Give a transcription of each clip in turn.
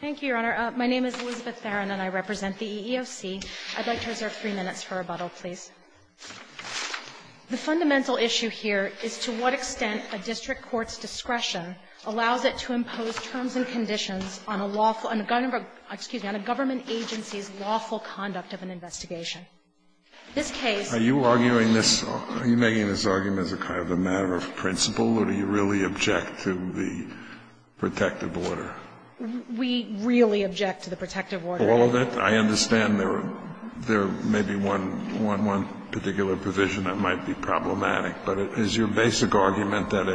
Thank you, Your Honor. My name is Elizabeth Theron, and I represent the EEOC. I'd like to reserve three minutes for rebuttal, please. The fundamental issue here is to what extent a district court's discretion allows it to impose terms and conditions on a lawful under government, excuse me, on a government agency's lawful conduct of an investigation. This case ---- Are you arguing this, are you making this argument as a kind of a matter of principle, or do you really object to the protective order? We really object to the protective order. All of it? I understand there may be one particular provision that might be problematic, but is your basic argument that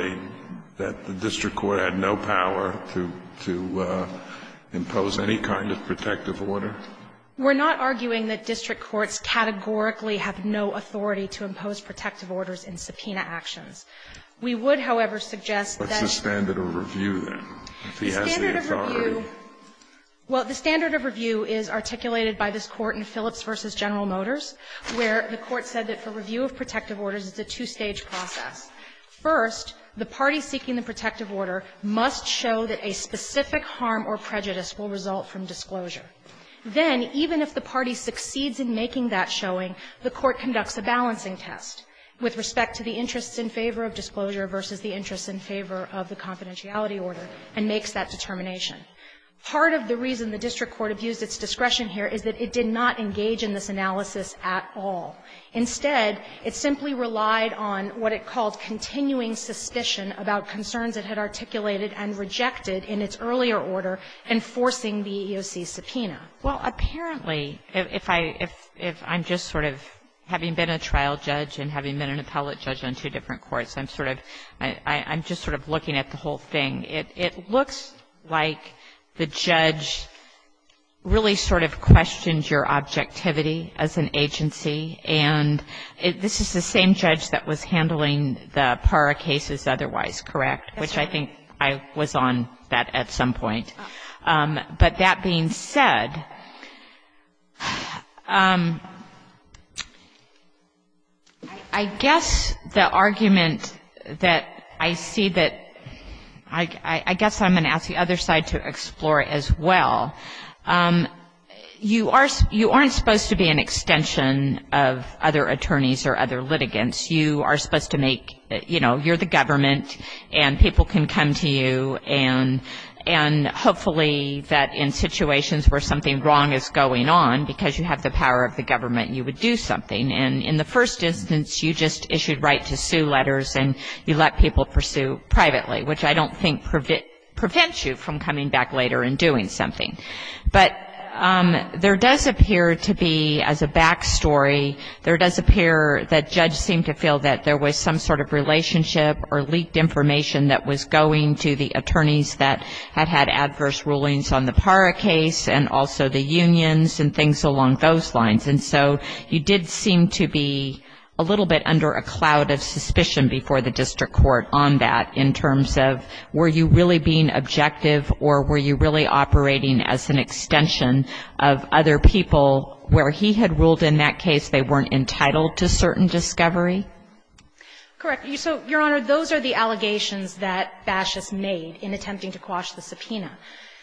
a district court had no power to impose any kind of protective order? We're not arguing that district courts categorically have no authority to impose protective orders in subpoena actions. We would, however, suggest that ---- What's the standard of review, then? If he has the authority? Well, the standard of review is articulated by this Court in Phillips v. General Motors, where the Court said that for review of protective orders, it's a two-stage process. First, the party seeking the protective order must show that a specific harm or prejudice will result from disclosure. Then, even if the party succeeds in making that showing, the court conducts a balancing test with respect to the interests in favor of disclosure versus the interests in favor of the confidentiality order, and makes that determination. Part of the reason the district court abused its discretion here is that it did not engage in this analysis at all. Instead, it simply relied on what it called continuing suspicion about concerns it had articulated and rejected in its earlier order enforcing the EEOC subpoena. Well, apparently, if I'm just sort of having been a trial judge and having been an appellate judge on two different courts, I'm sort of — I'm just sort of looking at the whole thing. It looks like the judge really sort of questioned your objectivity as an agency. And this is the same judge that was handling the PARA cases otherwise, correct? Yes, Your Honor. Which I think I was on that at some point. The argument that I see that — I guess I'm going to ask the other side to explore as well. You are — you aren't supposed to be an extension of other attorneys or other litigants. You are supposed to make — you know, you're the government, and people can come to you, and hopefully that in situations where something wrong is going on, because you have the power of the government, you would do something. And in the first instance, you just issued right-to-sue letters, and you let people pursue privately, which I don't think prevents you from coming back later and doing something. But there does appear to be, as a back story, there does appear that judge seemed to feel that there was some sort of relationship or leaked information that was going to the attorneys that had had adverse rulings on the PARA case and also the unions and things along those lines. And so you did seem to be a little bit under a cloud of suspicion before the district court on that in terms of were you really being objective or were you really operating as an extension of other people where he had ruled in that case they weren't entitled to certain discovery? Correct. So, Your Honor, those are the allegations that Bashes made in attempting to quash the subpoena.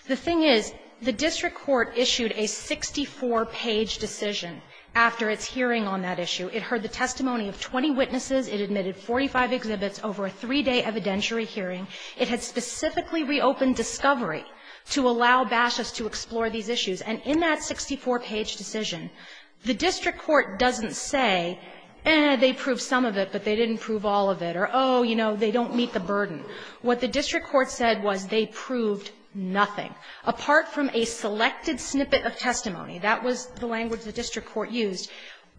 The thing is, the district court issued a 64-page decision after its hearing on that issue. It heard the testimony of 20 witnesses. It admitted 45 exhibits over a three-day evidentiary hearing. It had specifically reopened discovery to allow Bashes to explore these issues. And in that 64-page decision, the district court doesn't say, eh, they proved some of it, but they didn't prove all of it, or, oh, you know, they don't meet the burden. What the district court said was they proved nothing. Apart from a selected snippet of testimony, that was the language the district court used,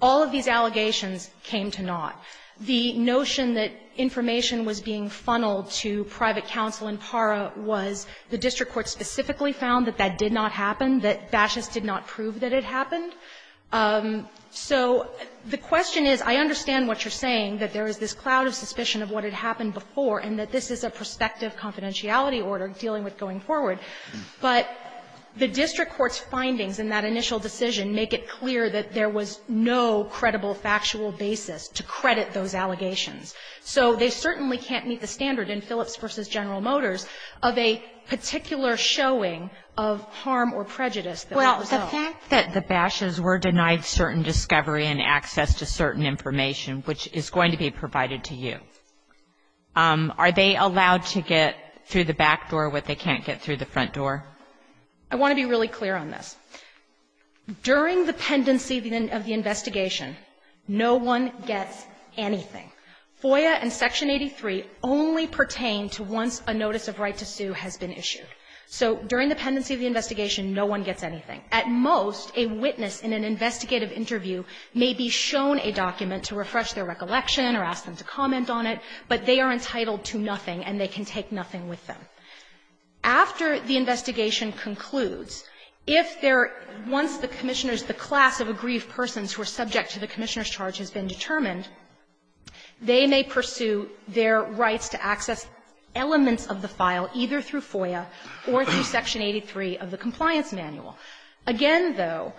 all of these allegations came to naught. The notion that information was being funneled to private counsel in PARA was the district court specifically found that that did not happen, that Bashes did not prove that it happened. So the question is, I understand what you're saying, that there is this cloud of suspicion of what had happened before, and that this is a prospective confidentiality order dealing with going forward, but the district court's findings in that initial decision make it clear that there was no credible factual basis to credit those allegations. So they certainly can't meet the standard in Phillips v. General Motors of a particular showing of harm or prejudice that was resolved. Well, the fact that the Bashes were denied certain discovery and access to certain information, which is going to be provided to you, are they allowed to get through the back door what they can't get through the front door? I want to be really clear on this. During the pendency of the investigation, no one gets anything. FOIA and Section 83 only pertain to once a notice of right to sue has been issued. So during the pendency of the investigation, no one gets anything. At most, a witness in an investigative interview may be shown a document to refresh their recollection or ask them to comment on it, but they are entitled to nothing and they can take nothing with them. After the investigation concludes, if there are ones the Commissioners, the class of aggrieved persons who are subject to the Commissioner's charge has been determined, they may pursue their rights to access elements of the file, either through FOIA or through Section 83 of the Compliance Manual. Again, though,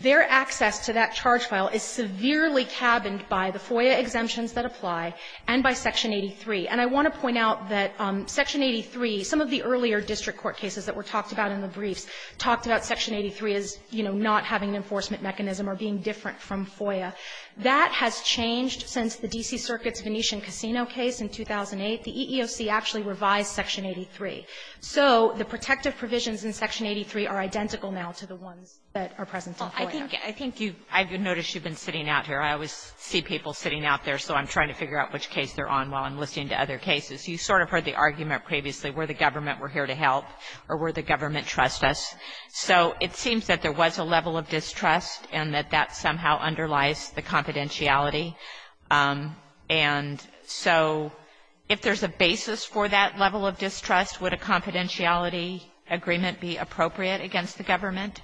their access to that charge file is severely cabined by the FOIA exemptions that apply and by Section 83. And I want to point out that Section 83, some of the earlier district court cases that were talked about in the briefs talked about Section 83 as, you know, not having an enforcement mechanism or being different from FOIA. That has changed since the D.C. Circuit's Venetian Casino case in 2008. The EEOC actually revised Section 83. So the protective provisions in Section 83 are identical now to the ones that are present GOTTLIEB Well, I think you've been sitting out here. I always see people sitting out there, so I'm trying to figure out which case they're on while I'm listening to other cases. You sort of heard the argument previously where the government were here to help or where the government trusts us. So it seems that there was a level of distrust and that that somehow underlies the confidentiality. And so if there's a basis for that level of distrust, would a confidentiality agreement be appropriate against the government?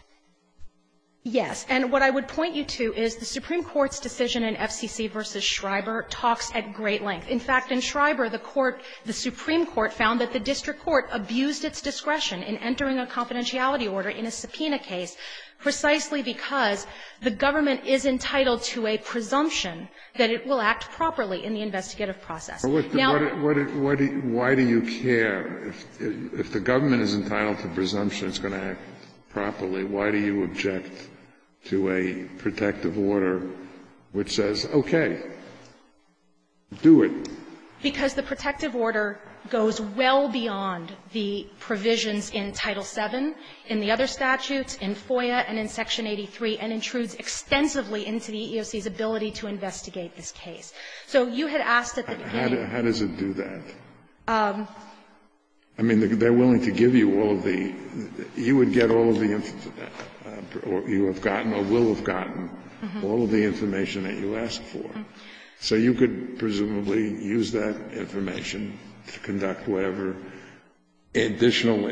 Yes. And what I would point you to is the Supreme Court's decision in FCC v. Schreiber talks at great length. In fact, in Schreiber, the court, the Supreme Court found that the district court abused its discretion in entering a confidentiality order in a subpoena case precisely that it will act properly in the investigative process. Now why do you care if the government is entitled to a presumption it's going to act properly? Why do you object to a protective order which says, okay, do it? Because the protective order goes well beyond the provisions in Title VII, in the other statutes, in FOIA, and in Section 83, and intrudes extensively into the EEOC's ability to investigate this case. So you had asked at the beginning. How does it do that? I mean, they're willing to give you all of the you would get all of the or you have gotten or will have gotten all of the information that you asked for. So you could presumably use that information to conduct whatever additional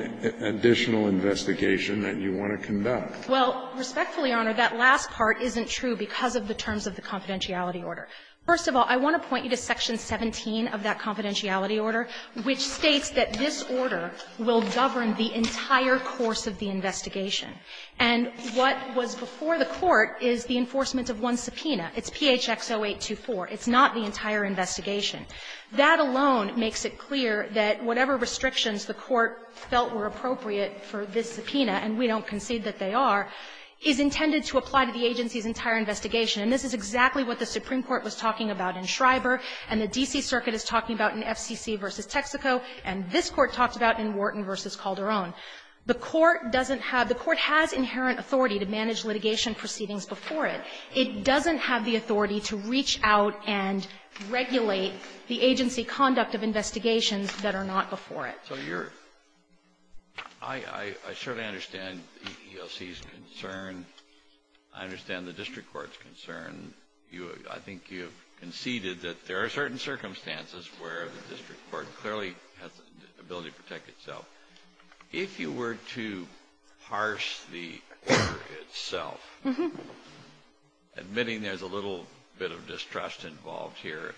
investigation that you want to conduct. Well, respectfully, Your Honor, that last part isn't true because of the terms of the confidentiality order. First of all, I want to point you to Section 17 of that confidentiality order, which states that this order will govern the entire course of the investigation. And what was before the court is the enforcement of one subpoena. It's PHX-0824. It's not the entire investigation. That alone makes it clear that whatever restrictions the court felt were appropriate for this subpoena, and we don't concede that they are, is intended to apply to the agency's entire investigation. And this is exactly what the Supreme Court was talking about in Schreiber, and the D.C. Circuit is talking about in FCC v. Texaco, and this Court talked about in Wharton v. Calderon. The Court doesn't have the Court has inherent authority to manage litigation proceedings before it. It doesn't have the authority to reach out and regulate the agency conduct of investigations that are not before it. Kennedy, I certainly understand the EEOC's concern. I understand the district court's concern. I think you have conceded that there are certain circumstances where the district court clearly has the ability to protect itself. If you were to parse the order itself, admitting there's a little bit of distrust involved here,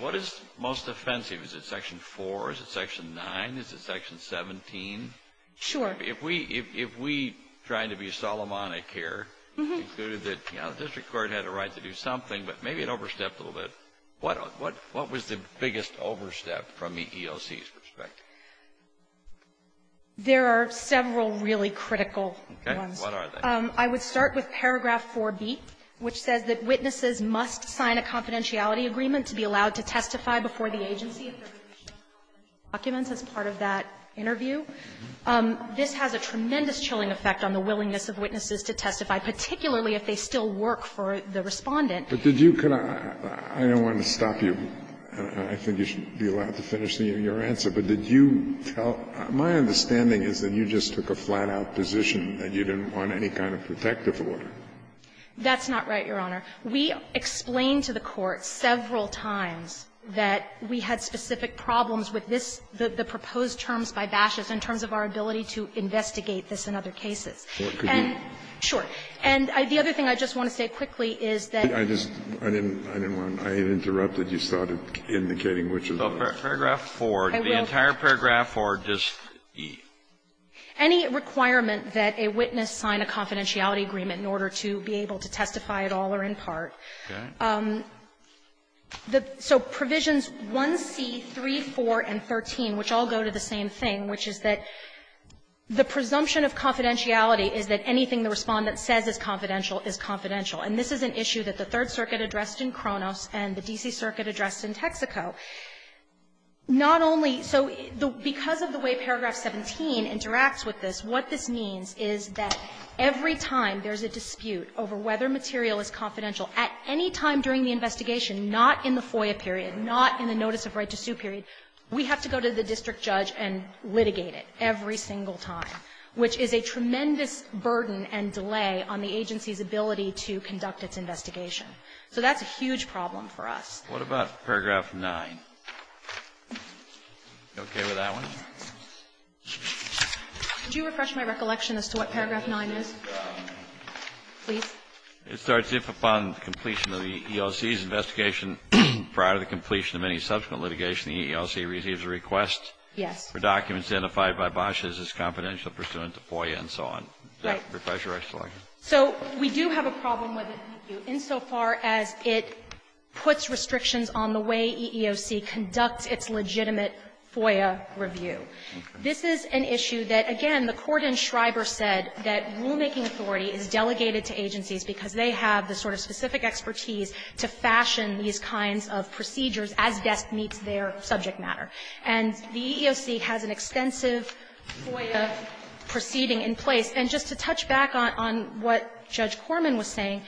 what is most offensive? Is it Section 4? Is it Section 9? Is it Section 17? Sure. If we try to be Solomonic here, and say that, you know, the district court had a right to do something, but maybe it overstepped a little bit, what was the biggest overstep from the EEOC's perspective? There are several really critical ones. Okay. What are they? I would start with paragraph 4b, which says that witnesses must sign a confidentiality agreement to be allowed to testify before the agency if there are additional documents as part of that interview. This has a tremendous chilling effect on the willingness of witnesses to testify, particularly if they still work for the Respondent. But did you kind of – I don't want to stop you. I think you should be allowed to finish your answer. But did you tell – my understanding is that you just took a flat-out position that you didn't want any kind of protective order. That's not right, Your Honor. We explained to the Court several times that we had specific problems with this, the proposed terms by Bashes, in terms of our ability to investigate this in other cases. And, sure. And the other thing I just want to say quickly is that you need to be able to do that. I just – I didn't want to – I interrupted. You started indicating which is which. But paragraph 4, the entire paragraph 4, just the – Any requirement that a witness sign a confidentiality agreement in order to be able to testify at all or in part. So provisions 1C, 3, 4, and 13, which all go to the same thing, which is that the presumption of confidentiality is that anything the Respondent says is confidential is confidential. And this is an issue that the Third Circuit addressed in Kronos and the D.C. Circuit addressed in Texaco. Not only – so because of the way paragraph 17 interacts with this, what this means is that every time there's a dispute over whether material is confidential at any time during the investigation, not in the FOIA period, not in the notice of right to sue period, we have to go to the district judge and litigate it every single time, which is a tremendous burden and delay on the agency's ability to conduct its investigation. So that's a huge problem for us. Kennedy. What about paragraph 9? You okay with that one? Could you refresh my recollection as to what paragraph 9 is? Please. It starts, If upon completion of the EEOC's investigation prior to the completion of any subsequent litigation, the EEOC receives a request for documents identified by Bosch as his confidential pursuant to FOIA and so on. Right. Refresh your recollection. So we do have a problem with it, thank you, insofar as it puts restrictions on the way EEOC conducts its legitimate FOIA review. This is an issue that, again, the court in Shriver said that rulemaking authority is delegated to agencies because they have the sort of specific expertise to fashion these kinds of procedures as best meets their subject matter. And the EEOC has an extensive FOIA proceeding in place. And just to touch back on what Judge Corman was saying,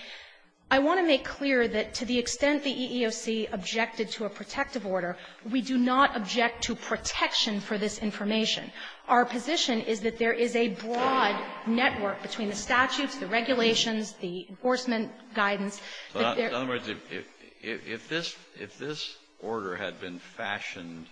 I want to make clear that to the extent the EEOC objected to a protective order, we do not object to protection for this information. Our position is that there is a broad network between the statutes, the regulations, the enforcement guidance. In other words, if this order had been fashioned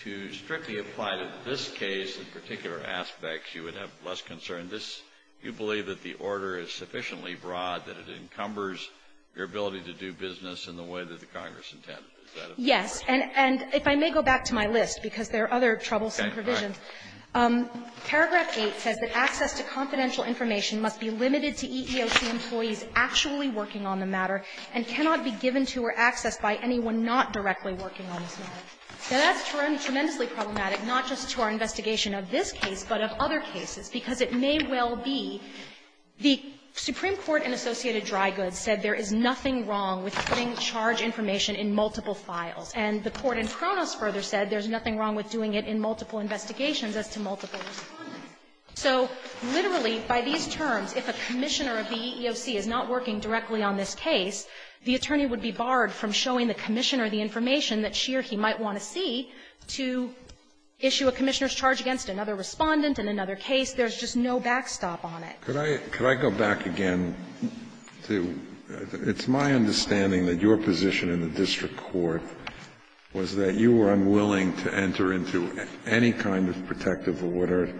to strictly apply to this case in particular aspects, you would have less concern. And this, you believe that the order is sufficiently broad that it encumbers your ability to do business in the way that the Congress intended. Is that correct? Yes. And if I may go back to my list, because there are other troublesome provisions. Okay. All right. Paragraph 8 says that access to confidential information must be limited to EEOC employees actually working on the matter and cannot be given to or accessed by anyone not directly working on this matter. Now, that's tremendously problematic, not just to our investigation of this case, but of other cases, because it may well be the Supreme Court and Associated Dry Goods said there is nothing wrong with putting charge information in multiple files. And the court in Kronos further said there's nothing wrong with doing it in multiple investigations as to multiple responders. So literally, by these terms, if a commissioner of the EEOC is not working directly on this case, the attorney would be barred from showing the commissioner the information that she or he might want to see to issue a commissioner's charge against another Respondent in another case. There's just no backstop on it. Could I go back again to my understanding that your position in the district court was that you were unwilling to enter into any kind of protective order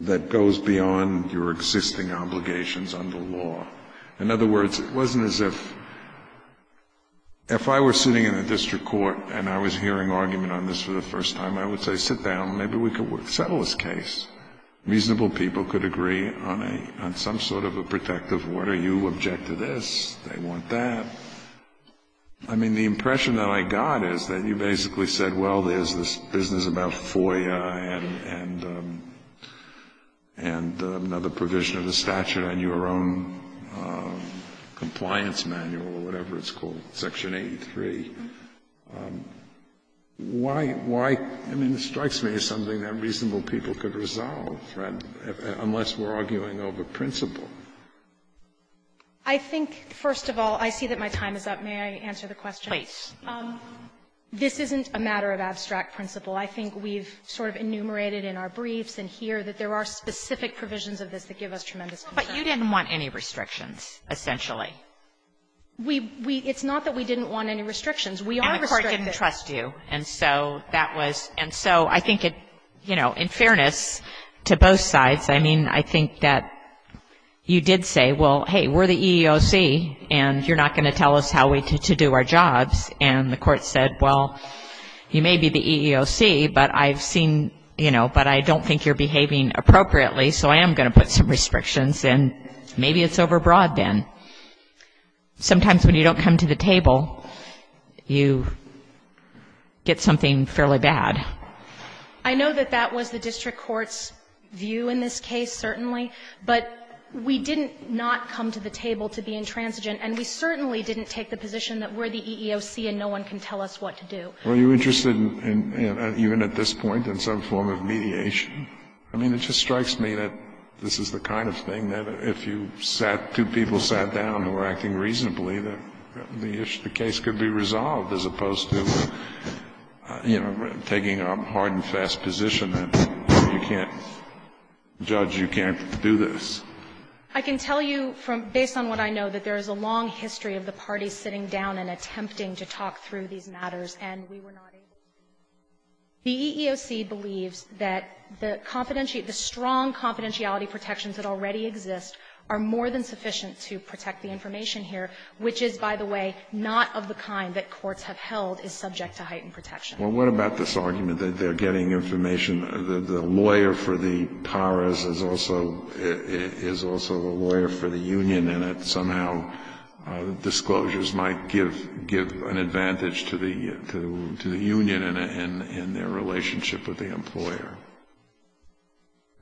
that goes beyond your existing obligations under law. In other words, it wasn't as if I were sitting in the district court and I was hearing argument on this for the first time, I would say, sit down, maybe we could settle this case. Reasonable people could agree on some sort of a protective order. You object to this, they want that. I mean, the impression that I got is that you basically said, well, there's this compliance manual or whatever it's called, Section 83. Why — why — I mean, it strikes me as something that reasonable people could resolve, unless we're arguing over principle. I think, first of all, I see that my time is up. May I answer the question? Kagan. This isn't a matter of abstract principle. I think we've sort of enumerated in our briefs and here that there are specific provisions of this that give us tremendous concern. But you didn't want any restrictions, essentially. We — we — it's not that we didn't want any restrictions. We are restricted. And the court didn't trust you. And so that was — and so I think it — you know, in fairness to both sides, I mean, I think that you did say, well, hey, we're the EEOC and you're not going to tell us how we — to do our jobs. And the court said, well, you may be the EEOC, but I've seen — you know, but I don't think you're behaving appropriately, so I am going to put some restrictions. And maybe it's overbroad, then. Sometimes when you don't come to the table, you get something fairly bad. I know that that was the district court's view in this case, certainly. But we didn't not come to the table to be intransigent. And we certainly didn't take the position that we're the EEOC and no one can tell us what to do. Kennedy, were you interested in, even at this point, in some form of mediation? I mean, it just strikes me that this is the kind of thing that if you sat — two people sat down who were acting reasonably, that the issue — the case could be resolved, as opposed to, you know, taking a hard-and-fast position that you can't — judge you can't do this. I can tell you from — based on what I know, that there is a long history of the parties sitting down and attempting to talk through these matters, and we were not able to. The EEOC believes that the strong confidentiality protections that already exist are more than sufficient to protect the information here, which is, by the way, not of the kind that courts have held is subject to heightened protection. Well, what about this argument that they're getting information — the lawyer for the union, and that somehow the disclosures might give an advantage to the union in their relationship with the employer?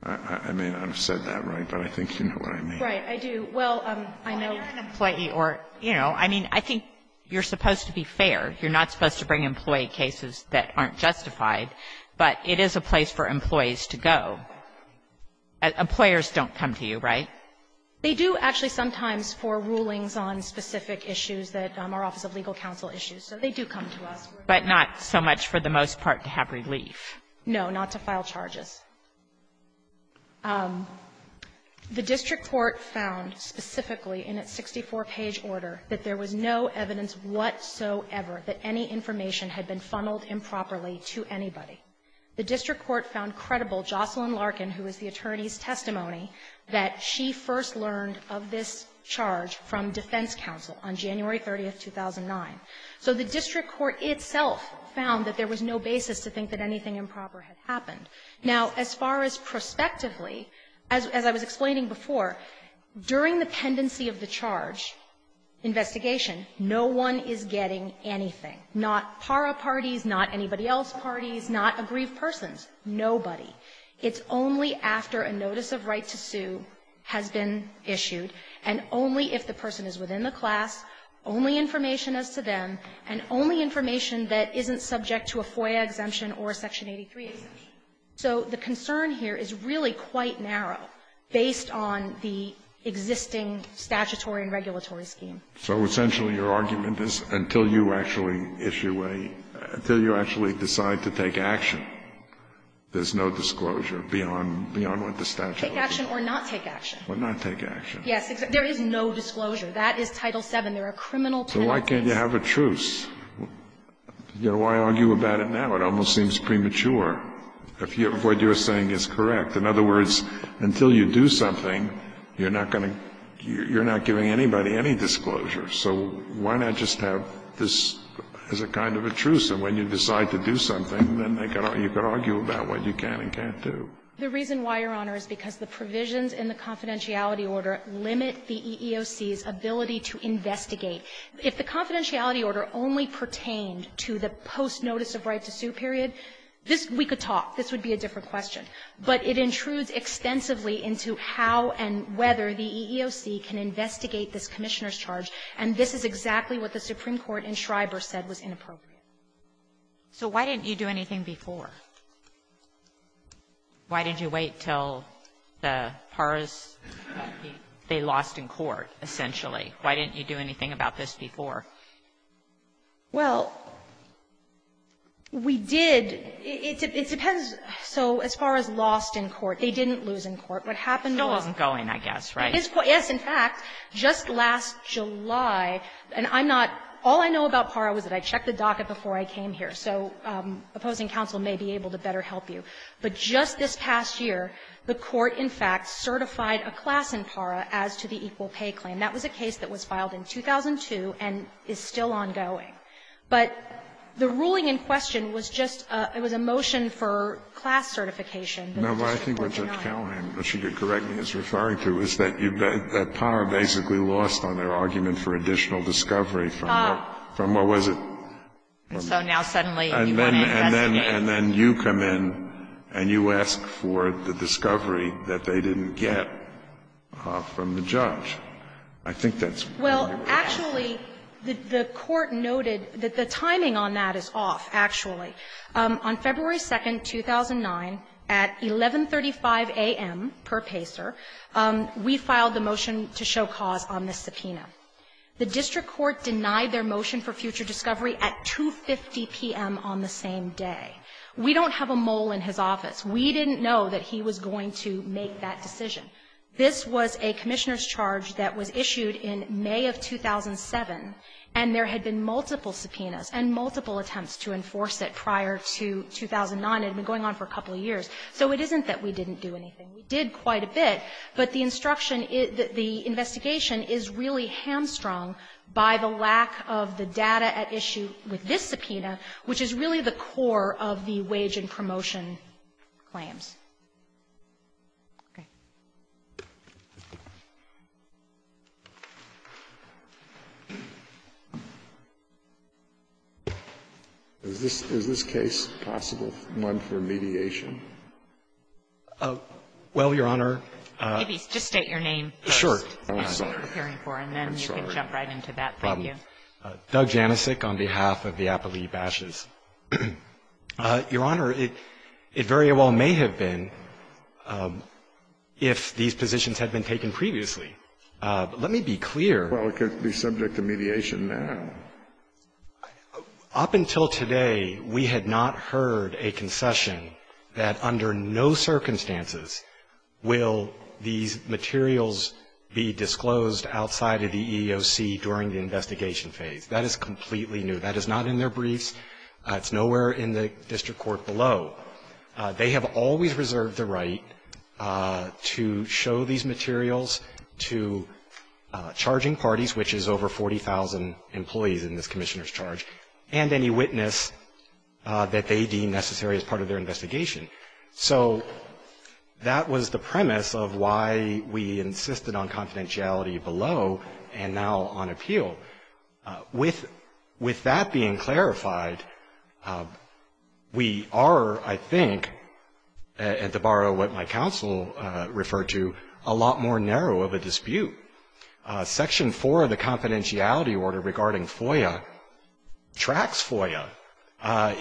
I mean, I've said that right, but I think you know what I mean. Right. Well, I know — Well, you're an employee, or — you know, I mean, I think you're supposed to be fair. You're not supposed to bring employee cases that aren't justified. But it is a place for employees to go. Employers don't come to you, right? They do actually sometimes for rulings on specific issues that are Office of Legal Counsel issues. So they do come to us. But not so much for the most part to have relief. No, not to file charges. The district court found specifically in its 64-page order that there was no evidence whatsoever that any information had been funneled improperly to anybody. The district court found credible Jocelyn Larkin, who is the attorney's testimony, that she first learned of this charge from defense counsel on January 30th, 2009. So the district court itself found that there was no basis to think that anything improper had happened. Now, as far as prospectively, as I was explaining before, during the pendency of the charge investigation, no one is getting anything. Not PARA parties, not anybody else's parties, not aggrieved persons, nobody. It's only after a notice of right to sue has been issued, and only if the person is within the class, only information as to them, and only information that isn't subject to a FOIA exemption or a Section 83 exemption. So the concern here is really quite narrow based on the existing statutory and regulatory scheme. So essentially, your argument is until you actually issue a – until you actually decide to take action, there's no disclosure beyond – beyond what the statute would do. Take action or not take action. Or not take action. Yes. There is no disclosure. That is Title VII. There are criminal penalties. So why can't you have a truce? You know, why argue about it now? It almost seems premature if what you're saying is correct. In other words, until you do something, you're not going to – you're not giving anybody any disclosure. So why not just have this as a kind of a truce? And when you decide to do something, then you can argue about what you can and can't do. The reason why, Your Honor, is because the provisions in the confidentiality order limit the EEOC's ability to investigate. If the confidentiality order only pertained to the post-notice-of-right-to-suit period, this – we could talk. This would be a different question. But it intrudes extensively into how and whether the EEOC can investigate this Commissioner's charge, and this is exactly what the Supreme Court in Schreiber said was inappropriate. So why didn't you do anything before? Why did you wait until the Paras – they lost in court, essentially. Why didn't you do anything about this before? Well, we did. It depends. So as far as lost in court, they didn't lose in court. What happened was – Still wasn't going, I guess, right? It is – yes, in fact, just last July, and I'm not – all I know about Para was that I checked the docket before I came here, so opposing counsel may be able to better help you. But just this past year, the Court, in fact, certified a class in Para as to the equal pay claim. That was a case that was filed in 2002 and is still ongoing. But the ruling in question was just a – it was a motion for class certification. No, but I think what Judge Callahan, if she could correct me, is referring to is that you've got – that Para basically lost on their argument for additional discovery from what – from what was it? And so now, suddenly, you want to investigate? And then you come in and you ask for the discovery that they didn't get from the judge. I think that's what they were asking. Well, actually, the Court noted that the timing on that is off, actually. On February 2nd, 2009, at 11.35 a.m. per PACER, we filed the motion to show cause on the subpoena. The district court denied their motion for future discovery at 2.50 p.m. on the same day. We don't have a mole in his office. We didn't know that he was going to make that decision. This was a commissioner's charge that was issued in May of 2007, and there had been multiple subpoenas and multiple attempts to enforce it prior to 2009. It had been going on for a couple of years. So it isn't that we didn't do anything. We did quite a bit. But the instruction is that the investigation is really hamstrung by the lack of the data at issue with this subpoena, which is really the core of the wage and promotion claims. Okay. Alitoso, is this case possible, one for mediation? Well, Your Honor ---- Just state your name first. Sure. I'm sorry. And then you can jump right into that. Thank you. Doug Janicek on behalf of the Appalooh Bashes. Your Honor, it very well may have been if these positions had been taken previously. Let me be clear. Well, it could be subject to mediation now. Your Honor, up until today, we had not heard a concession that under no circumstances will these materials be disclosed outside of the EEOC during the investigation phase. That is completely new. That is not in their briefs. It's nowhere in the district court below. They have always reserved the right to show these materials to charging parties, which is over 40,000 employees in this commissioner's charge, and any witness that they deem necessary as part of their investigation. So that was the premise of why we insisted on confidentiality below and now on appeal. With that being clarified, we are, I think, at the bar of what my counsel referred to, a lot more narrow of a dispute. Section 4 of the confidentiality order regarding FOIA tracks FOIA.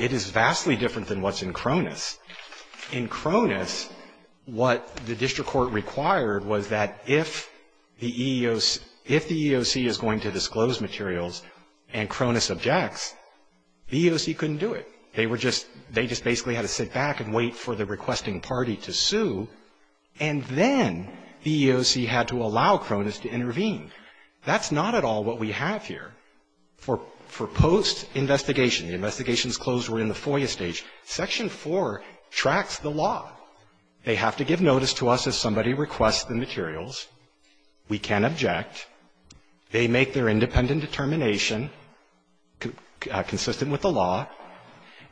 It is vastly different than what's in Cronus. In Cronus, what the district court required was that if the EEOC is going to disclose materials and Cronus objects, the EEOC couldn't do it. They just basically had to sit back and wait for the requesting party to sue. And then the EEOC had to allow Cronus to intervene. That's not at all what we have here. For post-investigation, the investigations closed were in the FOIA stage, Section 4 tracks the law. They have to give notice to us if somebody requests the materials. We can object. They make their independent determination consistent with the law.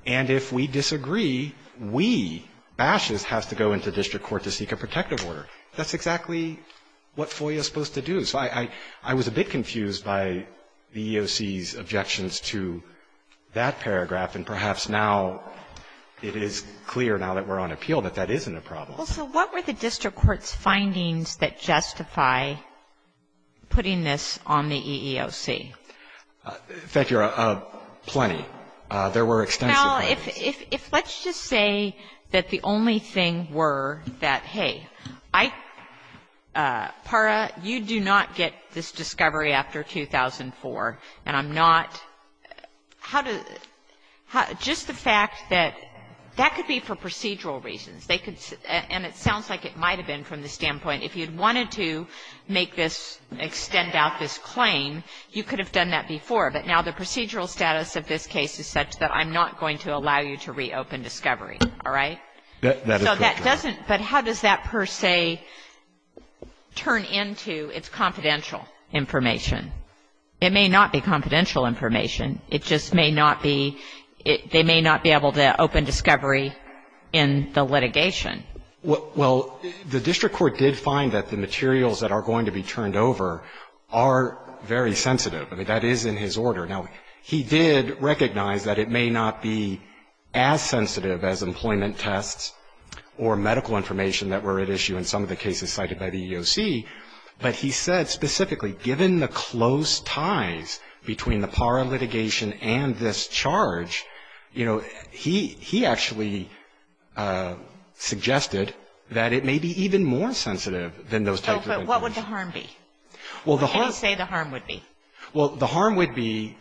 And if we disagree, we, Bashes, has to go into district court to seek a protective order. That's exactly what FOIA is supposed to do. So I was a bit confused by the EEOC's objections to that paragraph, and perhaps now it is clear now that we're on appeal that that isn't a problem. Well, so what were the district court's findings that justify putting this on the EEOC? Thank you, Your Honor, plenty. There were extensive findings. Well, if let's just say that the only thing were that, hey, I, PARA, you do not get this discovery after 2004, and I'm not, how do, just the fact that that could be for procedural reasons. They could, and it sounds like it might have been from the standpoint, if you'd wanted to make this, extend out this claim, you could have done that before. But now the procedural status of this case is such that I'm not going to allow you to reopen discovery, all right? So that doesn't, but how does that, per se, turn into its confidential information? It may not be confidential information. It just may not be, they may not be able to open discovery in the litigation. Well, the district court did find that the materials that are going to be turned over are very sensitive. I mean, that is in his order. Now, he did recognize that it may not be as sensitive as employment tests or medical information that were at issue in some of the cases cited by the EEOC. But he said specifically, given the close ties between the PARA litigation and this charge, you know, he, he actually suggested that it may be even more sensitive than those types of information. Oh, but what would the harm be? Well, the harm. What can you say the harm would be? Well, the harm would be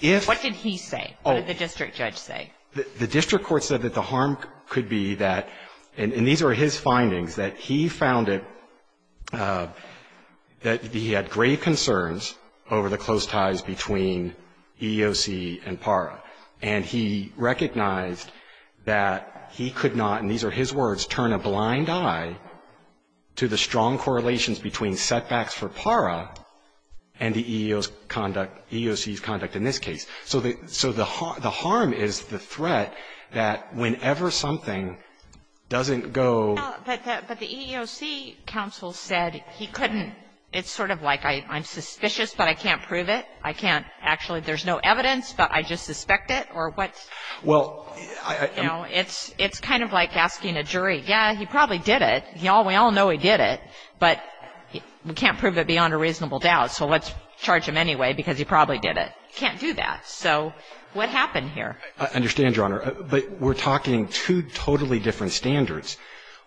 if. What did he say? What did the district judge say? The district court said that the harm could be that, and these are his findings, that he found it, that he had grave concerns over the close ties between EEOC and PARA. And he recognized that he could not, and these are his words, turn a blind eye to the strong correlations between setbacks for PARA and the EEOC's conduct in this case. So the harm is the threat that whenever something doesn't go. But the EEOC counsel said he couldn't. It's sort of like I'm suspicious, but I can't prove it. I can't actually, there's no evidence, but I just suspect it, or what's. Well, I. You know, it's, it's kind of like asking a jury, yeah, he probably did it. We all know he did it, but we can't prove it beyond a reasonable doubt, so let's charge him anyway because he probably did it. You can't do that, so what happened here? I understand, Your Honor, but we're talking two totally different standards.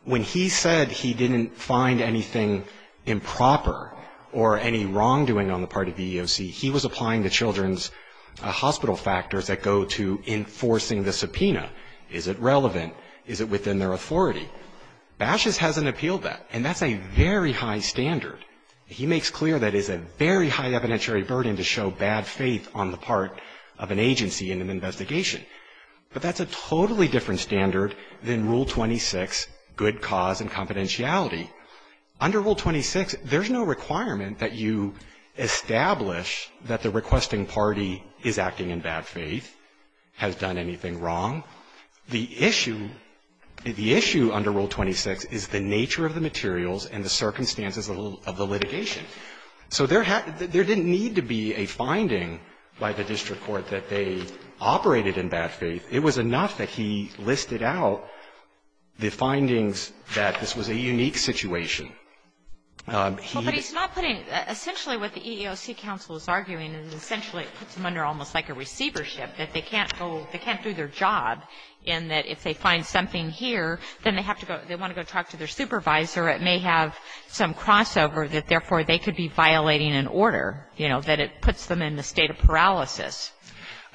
When he said he didn't find anything improper or any wrongdoing on the part of EEOC, he was applying the children's hospital factors that go to enforcing the subpoena. Is it relevant? Is it within their authority? Bashes hasn't appealed that, and that's a very high standard. He makes clear that it's a very high evidentiary burden to show bad faith on the part of an agency in an investigation. But that's a totally different standard than Rule 26, good cause and confidentiality. Under Rule 26, there's no requirement that you establish that the requesting party is acting in bad faith, has done anything wrong. The issue, the issue under Rule 26 is the nature of the materials and the circumstances of the litigation. So there didn't need to be a finding by the district court that they operated in bad faith. It was enough that he listed out the findings that this was a unique situation. He didn't. Well, but he's not putting – essentially what the EEOC counsel is arguing is essentially it puts them under almost like a receivership, that they can't go – they can't do their job in that if they find something here, then they have to go – they want to go talk to their supervisor. It may have some crossover that therefore they could be violating an order, you know, that it puts them in a state of paralysis.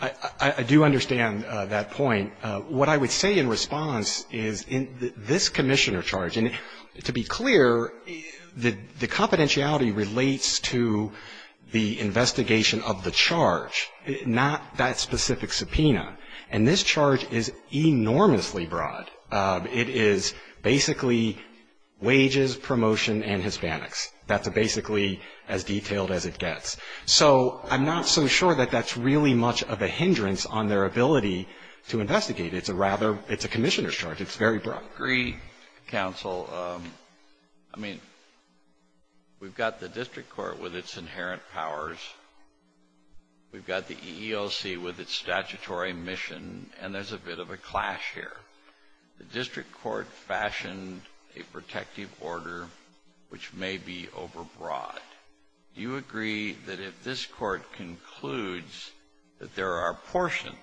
I do understand that point. What I would say in response is in this commissioner charge, and to be clear, the confidentiality relates to the investigation of the charge, not that specific subpoena. And this charge is enormously broad. It is basically wages, promotion, and Hispanics. That's basically as detailed as it gets. So I'm not so sure that that's really much of a hindrance on their ability to investigate. It's a rather – it's a commissioner's charge. It's very broad. I agree, counsel. I mean, we've got the district court with its inherent powers. We've got the EEOC with its statutory mission, and there's a bit of a clash here. The district court fashioned a protective order which may be overbroad. Do you agree that if this court concludes that there are portions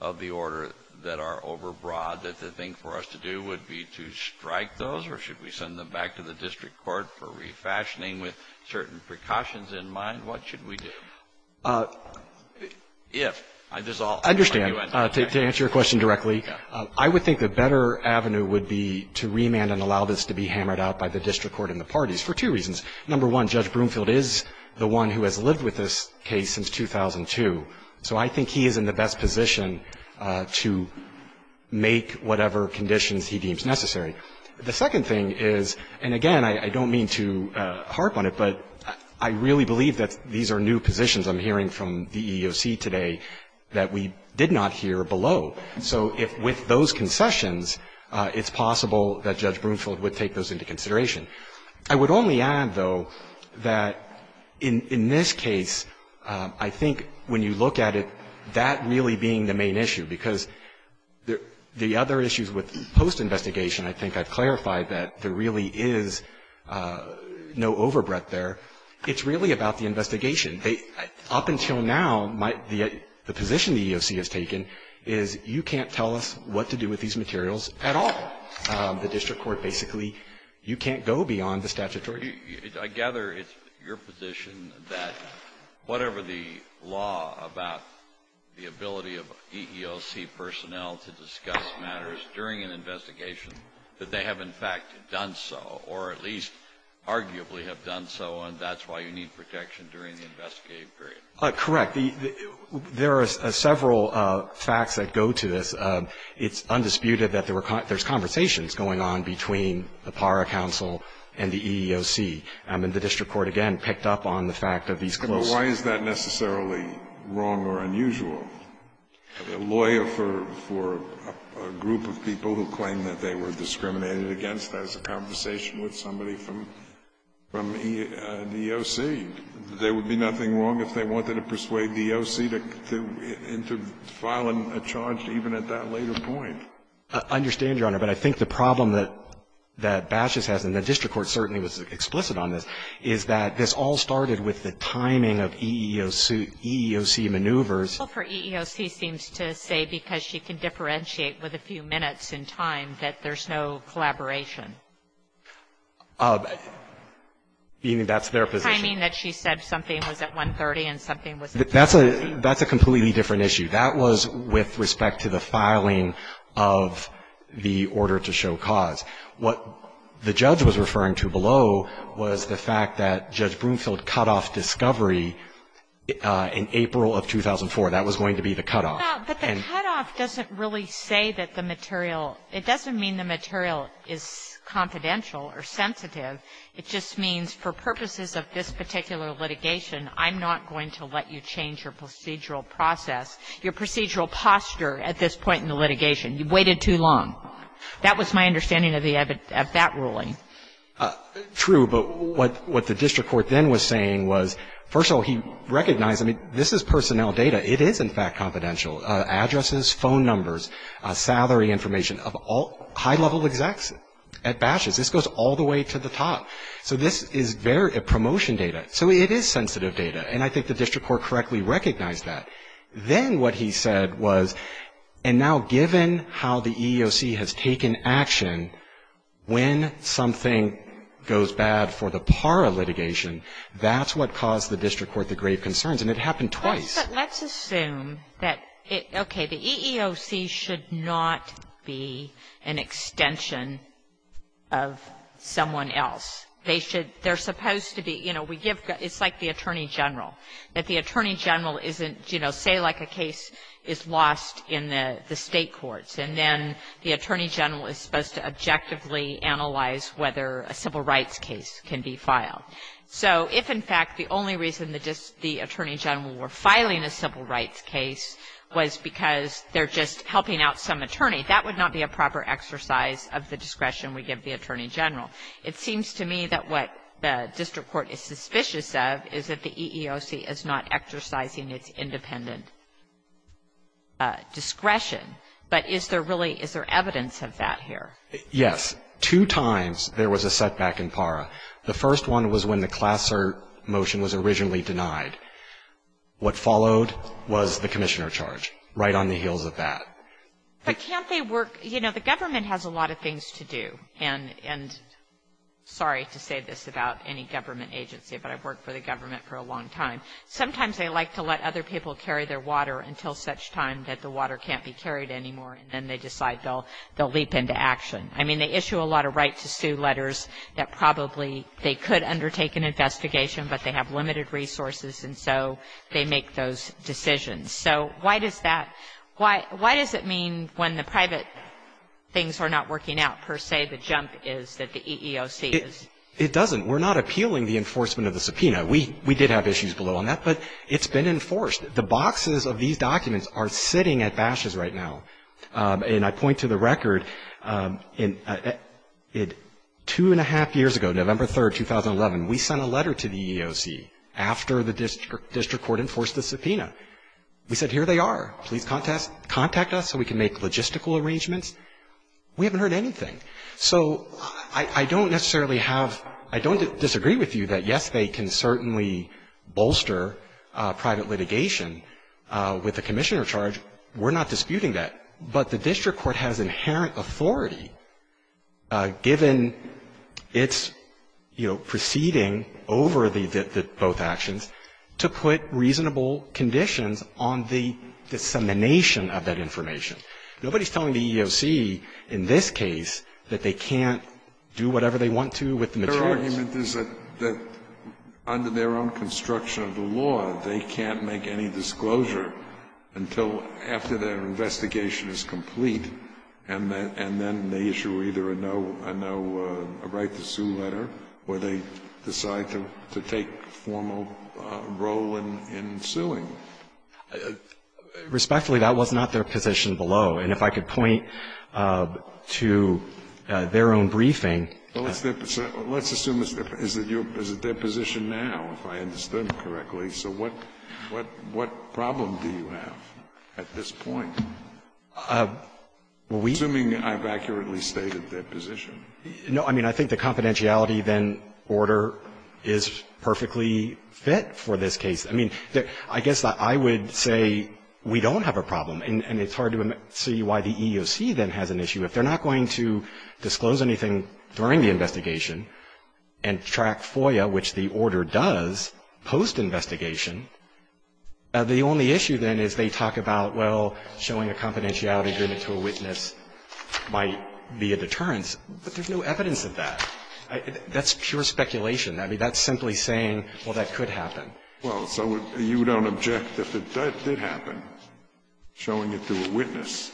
of the order that are overbroad, that the thing for us to do would be to strike those, or should we send them back to the district court for refashioning with certain precautions in mind? What should we do? If – I just – I don't understand. To answer your question directly, I would think the better avenue would be to remand and allow this to be hammered out by the district court and the parties for two reasons. Number one, Judge Broomfield is the one who has lived with this case since 2002. So I think he is in the best position to make whatever conditions he deems necessary. The second thing is – and again, I don't mean to harp on it, but I really believe that these are new positions I'm hearing from the EEOC today that we did not hear below. So if with those concessions, it's possible that Judge Broomfield would take those into consideration. I would only add, though, that in this case, I think when you look at it, that really being the main issue, because the other issues with post-investigation, I think I've clarified that there really is no overbreadth there. It's really about the investigation. Up until now, the position the EEOC has taken is you can't tell us what to do with these materials at all. The district court basically – you can't go beyond the statutory. I gather it's your position that whatever the law about the ability of EEOC personnel to discuss matters during an investigation, that they have in fact done so, or at least arguably have done so, and that's why you need protection during the investigative period. Correct. There are several facts that go to this. It's undisputed that there's conversations going on between the PARA counsel and the EEOC. And the district court, again, picked up on the fact of these close – But why is that necessarily wrong or unusual? A lawyer for a group of people who claim that they were discriminated against, that is a from the EEOC. There would be nothing wrong if they wanted to persuade the EEOC to file a charge even at that later point. I understand, Your Honor, but I think the problem that Bashes has, and the district court certainly was explicit on this, is that this all started with the timing of EEOC maneuvers. The counsel for EEOC seems to say, because she can differentiate with a few minutes in time, that there's no collaboration. Meaning that's their position. The timing that she said something was at 1.30 and something was at 1.40. That's a completely different issue. That was with respect to the filing of the order to show cause. What the judge was referring to below was the fact that Judge Broomfield cut off discovery in April of 2004. That was going to be the cutoff. No, but the cutoff doesn't really say that the material – it doesn't mean the material is confidential or sensitive. It just means for purposes of this particular litigation, I'm not going to let you change your procedural process, your procedural posture at this point in the litigation. You waited too long. That was my understanding of the – of that ruling. True, but what the district court then was saying was, first of all, he recognized – I mean, this is personnel data. It is, in fact, confidential, addresses, phone numbers, salary information of all high-level execs at batches. This goes all the way to the top. So this is very – promotion data. So it is sensitive data. And I think the district court correctly recognized that. Then what he said was, and now given how the EEOC has taken action, when something goes bad for the par of litigation, that's what caused the district court the grave concerns. And it happened twice. Sotomayor, let's assume that – okay, the EEOC should not be an extension of someone else. They should – they're supposed to be – you know, we give – it's like the attorney general, that the attorney general isn't, you know, say like a case is lost in the State courts, and then the attorney general is supposed to objectively analyze whether a civil rights case can be filed. So if, in fact, the only reason the attorney general were filing a civil rights case was because they're just helping out some attorney, that would not be a proper exercise of the discretion we give the attorney general. It seems to me that what the district court is suspicious of is that the EEOC is not exercising its independent discretion. But is there really – is there evidence of that here? Yes. Two times there was a setback in PARA. The first one was when the class cert motion was originally denied. What followed was the commissioner charge. Right on the heels of that. But can't they work – you know, the government has a lot of things to do. And sorry to say this about any government agency, but I've worked for the government for a long time. Sometimes they like to let other people carry their water until such time that the water can't be carried anymore, and then they decide they'll leap into action. I mean, they issue a lot of right-to-sue letters that probably they could undertake an investigation, but they have limited resources, and so they make those decisions. So why does that – why does it mean when the private things are not working out per se, the jump is that the EEOC is? It doesn't. We're not appealing the enforcement of the subpoena. We did have issues below on that, but it's been enforced. The boxes of these documents are sitting at bashes right now. And I point to the record, two-and-a-half years ago, November 3, 2011, we sent a letter to the EEOC after the district court enforced the subpoena. We said, here they are. Please contact us so we can make logistical arrangements. We haven't heard anything. So I don't necessarily have – I don't disagree with you that, yes, they can certainly bolster private litigation with a commissioner charge. We're not disputing that. But the district court has inherent authority, given its, you know, proceeding over the – both actions, to put reasonable conditions on the dissemination of that information. Nobody is telling the EEOC in this case that they can't do whatever they want to with the materials. Scalia's argument is that under their own construction of the law, they can't make any disclosure until after their investigation is complete, and then they issue either a no – a no right to sue letter, or they decide to take formal role in suing. Respectfully, that was not their position below. And if I could point to their own briefing that the EEOC has issued a right to sue letter, I would assume it's their position now, if I understood it correctly. So what problem do you have at this point, assuming I've accurately stated their position? No, I mean, I think the confidentiality, then, order is perfectly fit for this case. I mean, I guess I would say we don't have a problem, and it's hard to see why the EEOC then has an issue. If they're not going to disclose anything during the investigation and track FOIA, which the order does, post-investigation, the only issue, then, is they talk about, well, showing a confidentiality agreement to a witness might be a deterrence. But there's no evidence of that. That's pure speculation. I mean, that's simply saying, well, that could happen. Well, so you don't object if it did happen, showing it to a witness?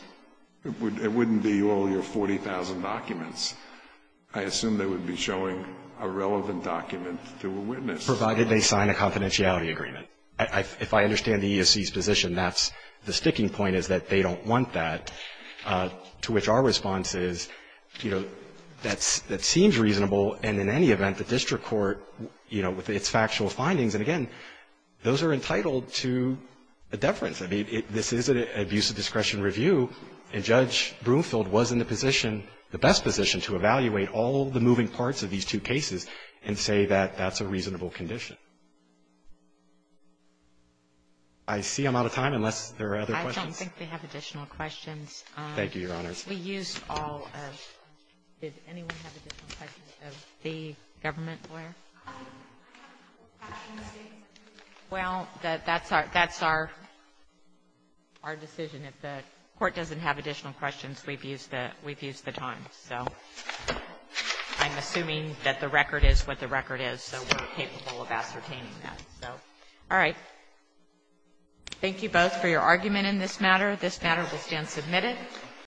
It wouldn't be all your 40,000 documents. I assume they would be showing a relevant document to a witness. Provided they sign a confidentiality agreement. If I understand the EEOC's position, that's the sticking point, is that they don't want that, to which our response is, you know, that seems reasonable, and in any event, the district court, you know, with its factual findings, and again, those are entitled to a deference. I mean, this is an abuse of discretion review, and Judge Broomfield was in the position, the best position, to evaluate all the moving parts of these two cases and say that that's a reasonable condition. I see I'm out of time, unless there are other questions. I don't think they have additional questions. Thank you, Your Honors. We used all of the questions. Did anyone have additional questions of the government lawyer? Well, that's our decision. If the Court doesn't have additional questions, we've used the time. So I'm assuming that the record is what the record is, so we're capable of ascertaining that. So, all right, thank you both for your argument in this matter. This matter will stand submitted.